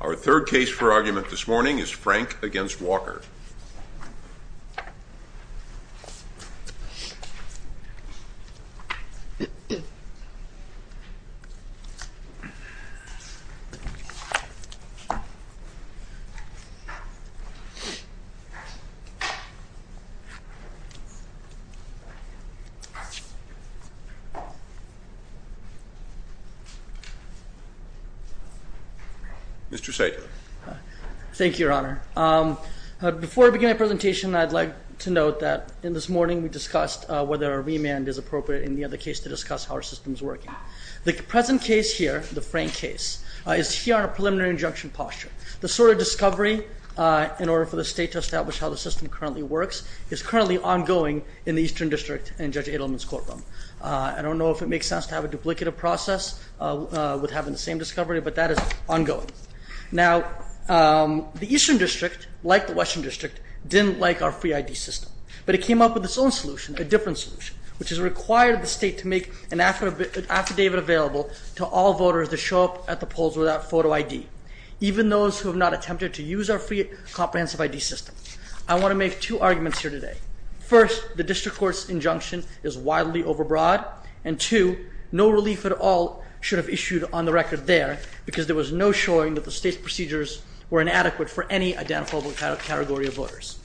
Our third case for argument this morning is Frank v. Walker. Mr. Saito Thank you, Your Honor. Before I begin my presentation, I'd like to note that this morning we discussed whether a remand is appropriate in the other case to discuss how our system is working. The present case here, the Frank case, is here on a preliminary injunction posture. The sort of discovery in order for the state to establish how the system currently works is currently ongoing in the Eastern District and Judge Adelman's courtroom. I don't know if it makes sense to have a duplicative process with having the same discovery, but that is ongoing. Now, the Eastern District, like the Western District, didn't like our free ID system, but it came up with its own solution, a different solution, which has required the state to make an affidavit available to all voters to show up at the polls without photo ID, even those who have not attempted to use our free comprehensive ID system. I want to make two arguments here today. First, the district court's injunction is wildly overbroad, and two, no relief at all should have issued on the record there because there was no showing that the state's procedures were inadequate for any identifiable category of voters.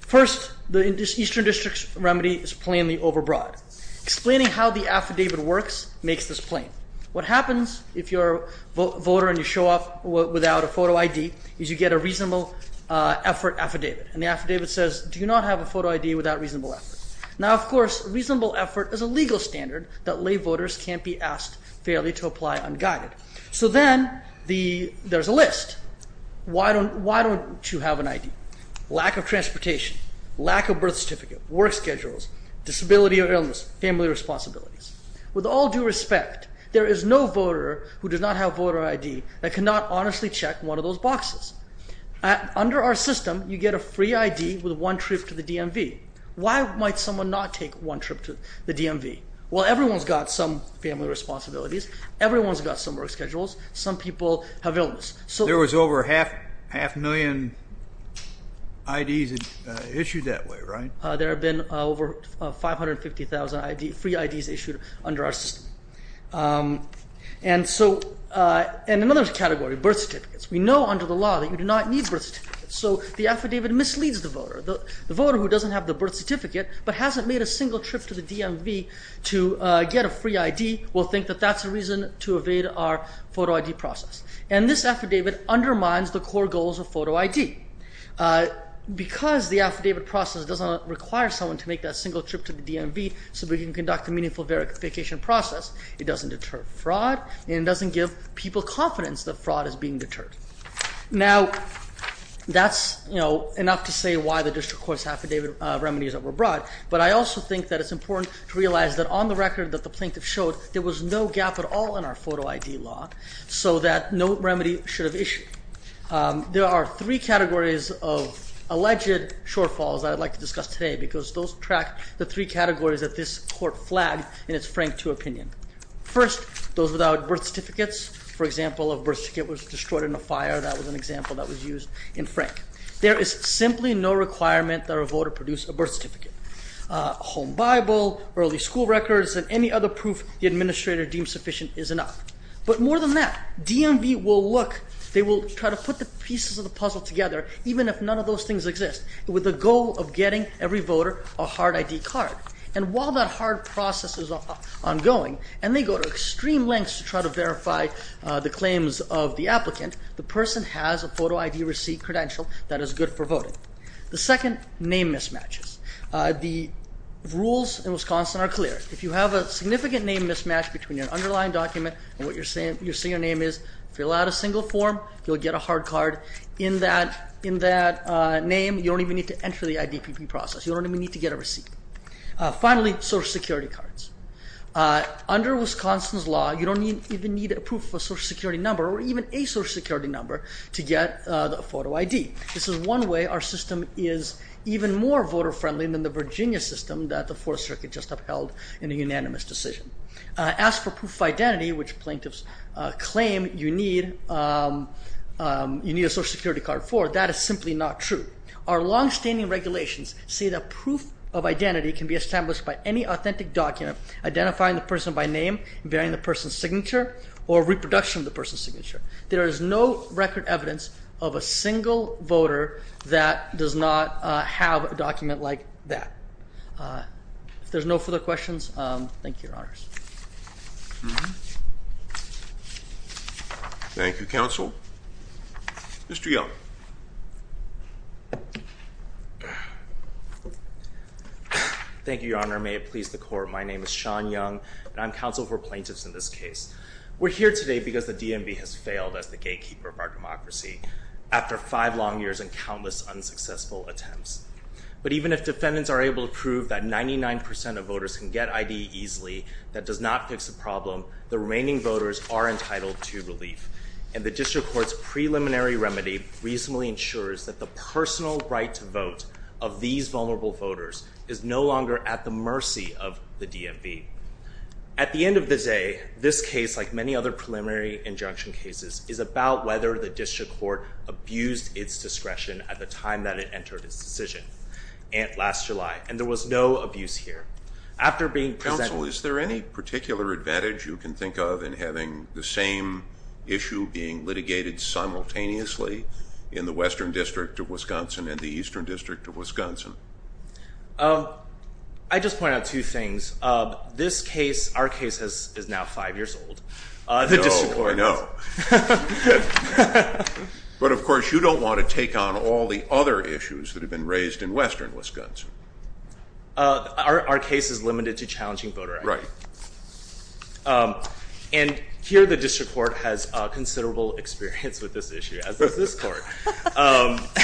First, the Eastern District's remedy is plainly overbroad. Explaining how the affidavit works makes this plain. What happens if you're a voter and you show up without a photo ID is you get a reasonable effort affidavit, and the affidavit says, do you not have a photo ID without reasonable effort? Now, of course, reasonable effort is a legal standard that lay voters can't be asked fairly to apply unguided. So then there's a list. Why don't you have an ID? Lack of transportation, lack of birth certificate, work schedules, disability or illness, family responsibilities. With all due respect, there is no voter who does not have voter ID that cannot honestly check one of those boxes. Under our system, you get a free ID with one trip to the DMV. Why might someone not take one trip to the DMV? Well, everyone's got some family responsibilities. Everyone's got some work schedules. Some people have illness. There was over half a million IDs issued that way, right? There have been over 550,000 free IDs issued under our system. And another category, birth certificates. We know under the law that you do not need birth certificates. So the affidavit misleads the voter. The voter who doesn't have the birth certificate but hasn't made a single trip to the DMV to get a free ID will think that that's a reason to evade our photo ID process. And this affidavit undermines the core goals of photo ID. Because the affidavit process does not require someone to make that single trip to the DMV so we can conduct a meaningful verification process, it doesn't deter fraud and it doesn't give people confidence that fraud is being deterred. Now, that's, you know, enough to say why the district court's affidavit remedies were brought. But I also think that it's important to realize that on the record that the plaintiff showed, there was no gap at all in our photo ID law so that no remedy should have issued. There are three categories of alleged shortfalls that I'd like to discuss today because those track the three categories that this court flagged in its Frank II opinion. First, those without birth certificates. For example, a birth certificate was destroyed in a fire. That was an example that was used in Frank. There is simply no requirement that a voter produce a birth certificate. Home Bible, early school records, and any other proof the administrator deems sufficient is enough. But more than that, DMV will look, they will try to put the pieces of the puzzle together even if none of those things exist with the goal of getting every voter a hard ID card. And while that hard process is ongoing and they go to extreme lengths to try to verify the claims of the applicant, the person has a photo ID receipt credential that is good for voting. The second, name mismatches. The rules in Wisconsin are clear. If you have a significant name mismatch between your underlying document and what you're saying your name is, fill out a single form, you'll get a hard card. In that name, you don't even need to enter the IDPP process. You don't even need to get a receipt. Finally, Social Security cards. Under Wisconsin's law, you don't even need a proof of Social Security number or even a Social Security number to get a photo ID. This is one way our system is even more voter friendly than the Virginia system that the Fourth Circuit just upheld in a unanimous decision. As for proof of identity, which plaintiffs claim you need a Social Security card for, that is simply not true. Our longstanding regulations say that proof of identity can be established by any authentic document identifying the person by name, bearing the person's signature, or reproduction of the person's signature. There is no record evidence of a single voter that does not have a document like that. If there's no further questions, thank you, Your Honors. Thank you, Counsel. Mr. Young. Thank you, Your Honor. May it please the Court. My name is Sean Young, and I'm counsel for plaintiffs in this case. We're here today because the DMV has failed as the gatekeeper of our democracy after five long years and countless unsuccessful attempts. But even if defendants are able to prove that 99% of voters can get ID easily, that does not fix the problem, the remaining voters are entitled to relief. And the District Court's preliminary remedy reasonably ensures that the personal right to vote of these vulnerable voters is no longer at the mercy of the DMV. At the end of the day, this case, like many other preliminary injunction cases, is about whether the District Court abused its discretion at the time that it entered its decision, last July, and there was no abuse here. Counsel, is there any particular advantage you can think of in having the same issue being litigated simultaneously in the Western District of Wisconsin and the Eastern District of Wisconsin? I'd just point out two things. This case, our case, is now five years old. No, I know. But, of course, you don't want to take on all the other issues that have been raised in Western Wisconsin. Our case is limited to challenging voter ID. Right. And here the District Court has considerable experience with this issue, as does this Court.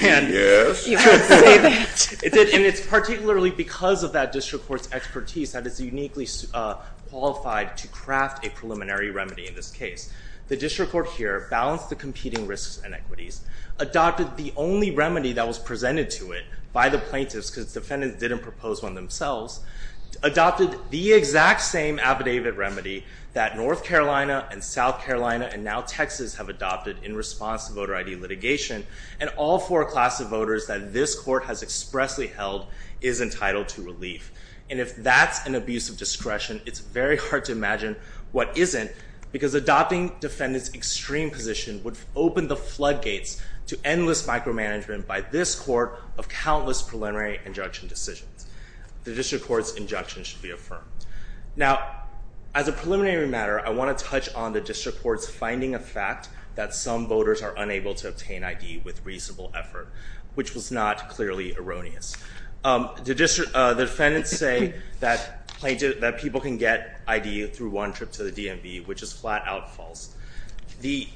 Yes. And it's particularly because of that District Court's expertise that it's uniquely qualified to craft a preliminary remedy in this case. The District Court here balanced the competing risks and equities, adopted the only remedy that was presented to it by the plaintiffs, because the defendants didn't propose one themselves, adopted the exact same affidavit remedy that North Carolina and South Carolina and now Texas have adopted in response to voter ID litigation, and all four classes of voters that this Court has expressly held is entitled to relief. And if that's an abuse of discretion, it's very hard to imagine what isn't, because adopting defendants' extreme position would open the floodgates to endless micromanagement by this Court of countless preliminary injunction decisions. The District Court's injunction should be affirmed. Now, as a preliminary matter, I want to touch on the District Court's finding of fact that some voters are unable to obtain ID with reasonable effort, which was not clearly erroneous. The defendants say that people can get ID through one trip to the DMV, which is flat-out false. The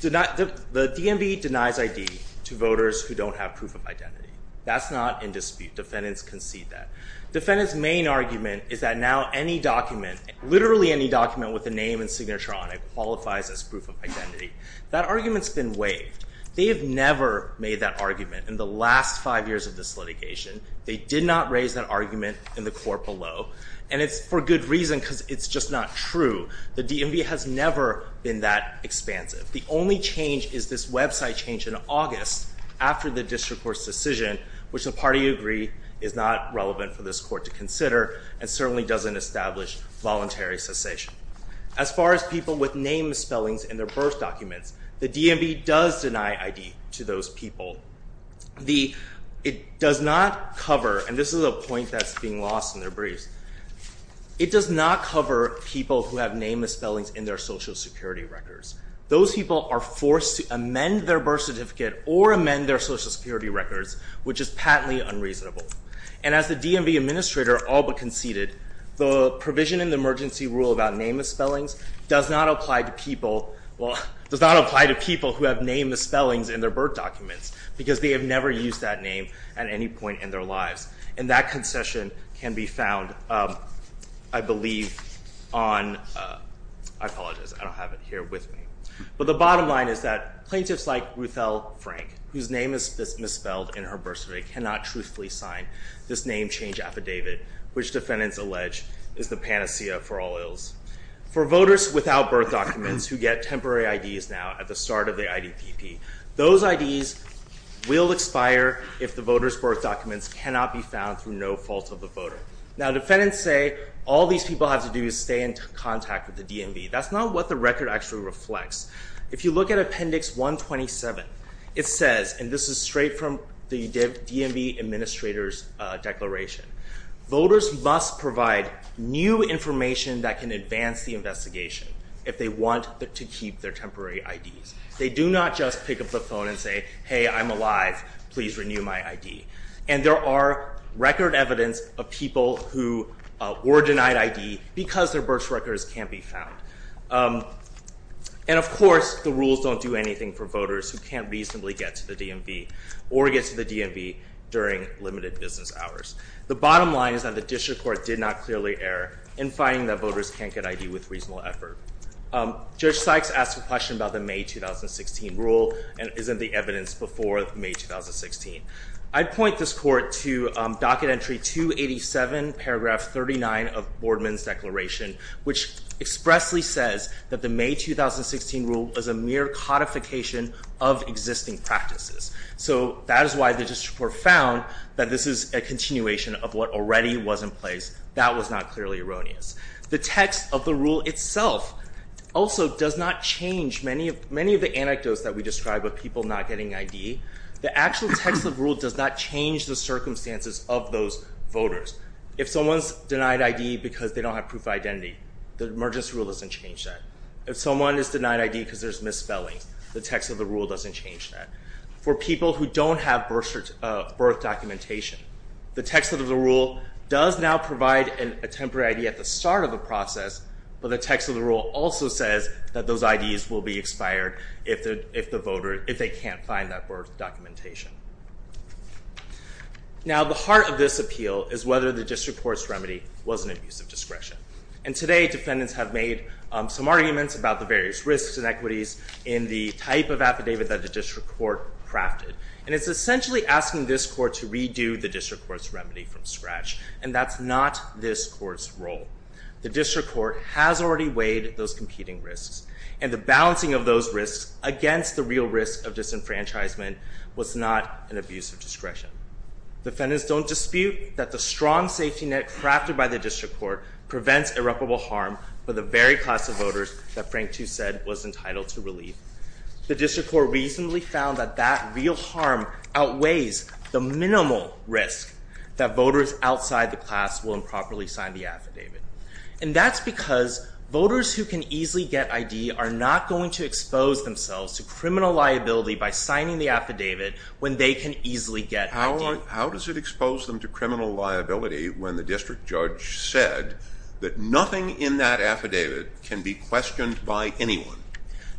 DMV denies ID to voters who don't have proof of identity. That's not in dispute. Defendants concede that. Defendants' main argument is that now any document, literally any document with a name and signature on it, qualifies as proof of identity. That argument's been waived. They have never made that argument in the last five years of this litigation. They did not raise that argument in the Court below. And it's for good reason, because it's just not true. The DMV has never been that expansive. The only change is this website change in August after the District Court's decision, which the party agreed is not relevant for this Court to consider and certainly doesn't establish voluntary cessation. As far as people with name spellings in their birth documents, the DMV does deny ID to those people. It does not cover, and this is a point that's being lost in their briefs, it does not cover people who have name spellings in their Social Security records. Those people are forced to amend their birth certificate or amend their Social Security records, which is patently unreasonable. And as the DMV administrator all but conceded, the provision in the emergency rule about name spellings does not apply to people, well, does not apply to people who have name spellings in their birth documents, because they have never used that name at any point in their lives. And that concession can be found, I believe, on, I apologize, I don't have it here with me. But the bottom line is that plaintiffs like Ruthelle Frank, whose name is misspelled in her birth certificate, cannot truthfully sign this name change affidavit, which defendants allege is the panacea for all ills. For voters without birth documents who get temporary IDs now at the start of the IDPP, those IDs will expire if the voters' birth documents cannot be found through no fault of the voter. Now defendants say all these people have to do is stay in contact with the DMV. That's not what the record actually reflects. If you look at Appendix 127, it says, and this is straight from the DMV administrator's declaration, voters must provide new information that can advance the investigation if they want to keep their temporary IDs. They do not just pick up the phone and say, hey, I'm alive, please renew my ID. And there are record evidence of people who were denied ID because their birth records can't be found. And, of course, the rules don't do anything for voters who can't reasonably get to the DMV or get to the DMV during limited business hours. The bottom line is that the district court did not clearly err in finding that voters can't get ID with reasonable effort. Judge Sykes asked a question about the May 2016 rule and isn't the evidence before May 2016. I'd point this court to Docket Entry 287, Paragraph 39 of Boardman's Declaration, which expressly says that the May 2016 rule is a mere codification of existing practices. So that is why the district court found that this is a continuation of what already was in place. That was not clearly erroneous. The text of the rule itself also does not change many of the anecdotes that we describe of people not getting ID. The actual text of the rule does not change the circumstances of those voters. If someone's denied ID because they don't have proof of identity, the emergency rule doesn't change that. If someone is denied ID because there's misspelling, the text of the rule doesn't change that. For people who don't have birth documentation, the text of the rule does now provide a temporary ID at the start of the process, but the text of the rule also says that those IDs will be expired if they can't find that birth documentation. Now, the heart of this appeal is whether the district court's remedy was an abuse of discretion. And today, defendants have made some arguments about the various risks and equities in the type of affidavit that the district court crafted. And it's essentially asking this court to redo the district court's remedy from scratch, and that's not this court's role. The district court has already weighed those competing risks, and the balancing of those risks against the real risk of disenfranchisement was not an abuse of discretion. Defendants don't dispute that the strong safety net crafted by the district court prevents irreparable harm for the very class of voters that Frank Tu said was entitled to relief. The district court recently found that that real harm outweighs the minimal risk that voters outside the class will improperly sign the affidavit. And that's because voters who can easily get ID are not going to expose themselves to criminal liability by signing the affidavit when they can easily get ID. How does it expose them to criminal liability when the district judge said that nothing in that affidavit can be questioned by anyone?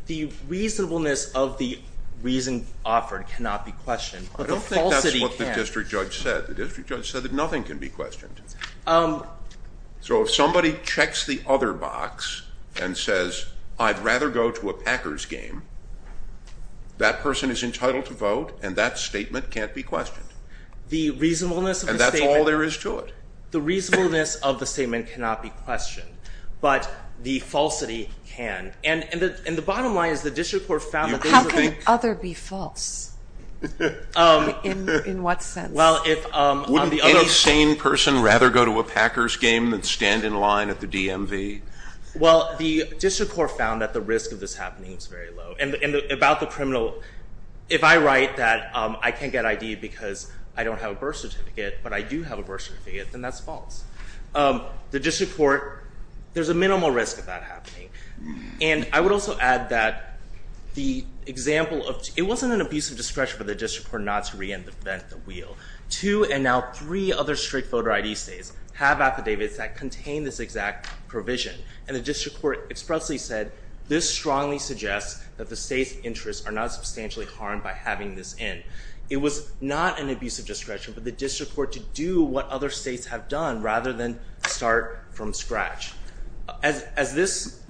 The reasonableness of the reason offered cannot be questioned, but the falsity can. I don't think that's what the district judge said. The district judge said that nothing can be questioned. So if somebody checks the other box and says, I'd rather go to a Packers game, that person is entitled to vote and that statement can't be questioned. The reasonableness of the statement. And that's all there is to it. The reasonableness of the statement cannot be questioned, but the falsity can. And the bottom line is the district court found that those are the- How can other be false? In what sense? Well, if- Wouldn't any sane person rather go to a Packers game than stand in line at the DMV? Well, the district court found that the risk of this happening is very low. And about the criminal, if I write that I can't get ID because I don't have a birth certificate, but I do have a birth certificate, then that's false. The district court, there's a minimal risk of that happening. And I would also add that the example of- It wasn't an abusive discretion for the district court not to reinvent the wheel. Two and now three other strict voter ID states have affidavits that contain this exact provision. And the district court expressly said, this strongly suggests that the state's interests are not substantially harmed by having this in. It was not an abusive discretion for the district court to do what other states have done rather than start from scratch. And as this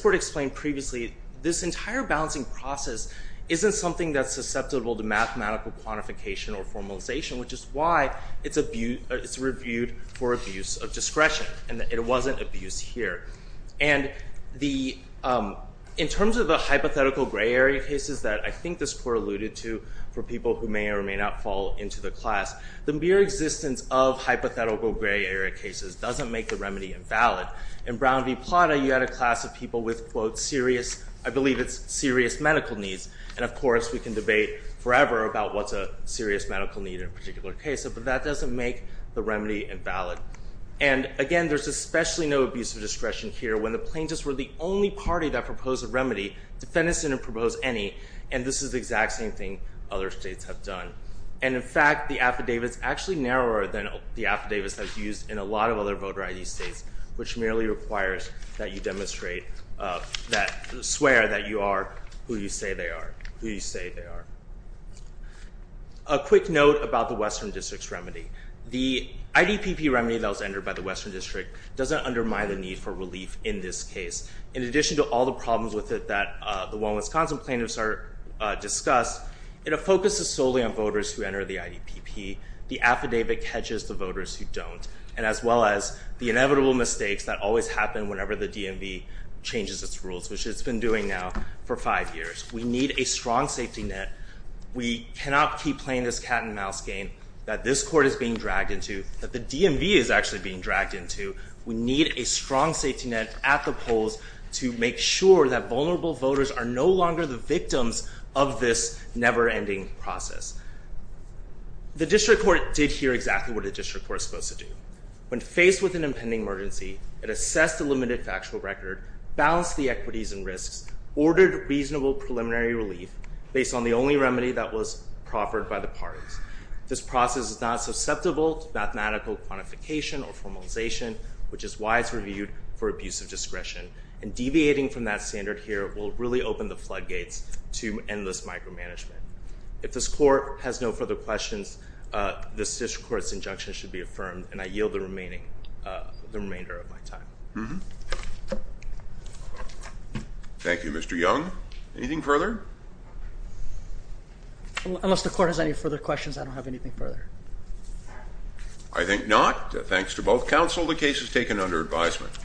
court explained previously, this entire balancing process isn't something that's susceptible to mathematical quantification or formalization, which is why it's reviewed for abuse of discretion. And it wasn't abuse here. And in terms of the hypothetical gray area cases that I think this court alluded to for people who may or may not fall into the class, the mere existence of hypothetical gray area cases doesn't make the remedy invalid. In Brown v. Plata, you had a class of people with, quote, serious, I believe it's serious medical needs. And of course, we can debate forever about what's a serious medical need in a particular case, but that doesn't make the remedy invalid. And again, there's especially no abuse of discretion here when the plaintiffs were the only party that proposed a remedy, defendants didn't propose any, and this is the exact same thing other states have done. And in fact, the affidavit's actually narrower than the affidavits that's used in a lot of other voter ID states, which merely requires that you demonstrate that, swear that you are who you say they are, who you say they are. A quick note about the Western District's remedy. The IDPP remedy that was entered by the Western District doesn't undermine the need for relief in this case. In addition to all the problems with it that the one Wisconsin plaintiffs discussed, it focuses solely on voters who enter the IDPP. The affidavit catches the voters who don't, and as well as the inevitable mistakes that always happen whenever the DMV changes its rules, which it's been doing now for five years. We need a strong safety net. We cannot keep playing this cat and mouse game that this court is being dragged into, that the DMV is actually being dragged into. We need a strong safety net at the polls to make sure that vulnerable voters are no longer the victims of this never-ending process. The district court did hear exactly what a district court is supposed to do. When faced with an impending emergency, it assessed the limited factual record, balanced the equities and risks, ordered reasonable preliminary relief based on the only remedy that was proffered by the parties. This process is not susceptible to mathematical quantification or formalization, which is why it's reviewed for abuse of discretion. And deviating from that standard here will really open the floodgates to endless micromanagement. If this court has no further questions, this district court's injunction should be affirmed, and I yield the remainder of my time. Thank you, Mr. Young. Anything further? Unless the court has any further questions, I don't have anything further. I think not. Thanks to both counsel, the case is taken under advisement.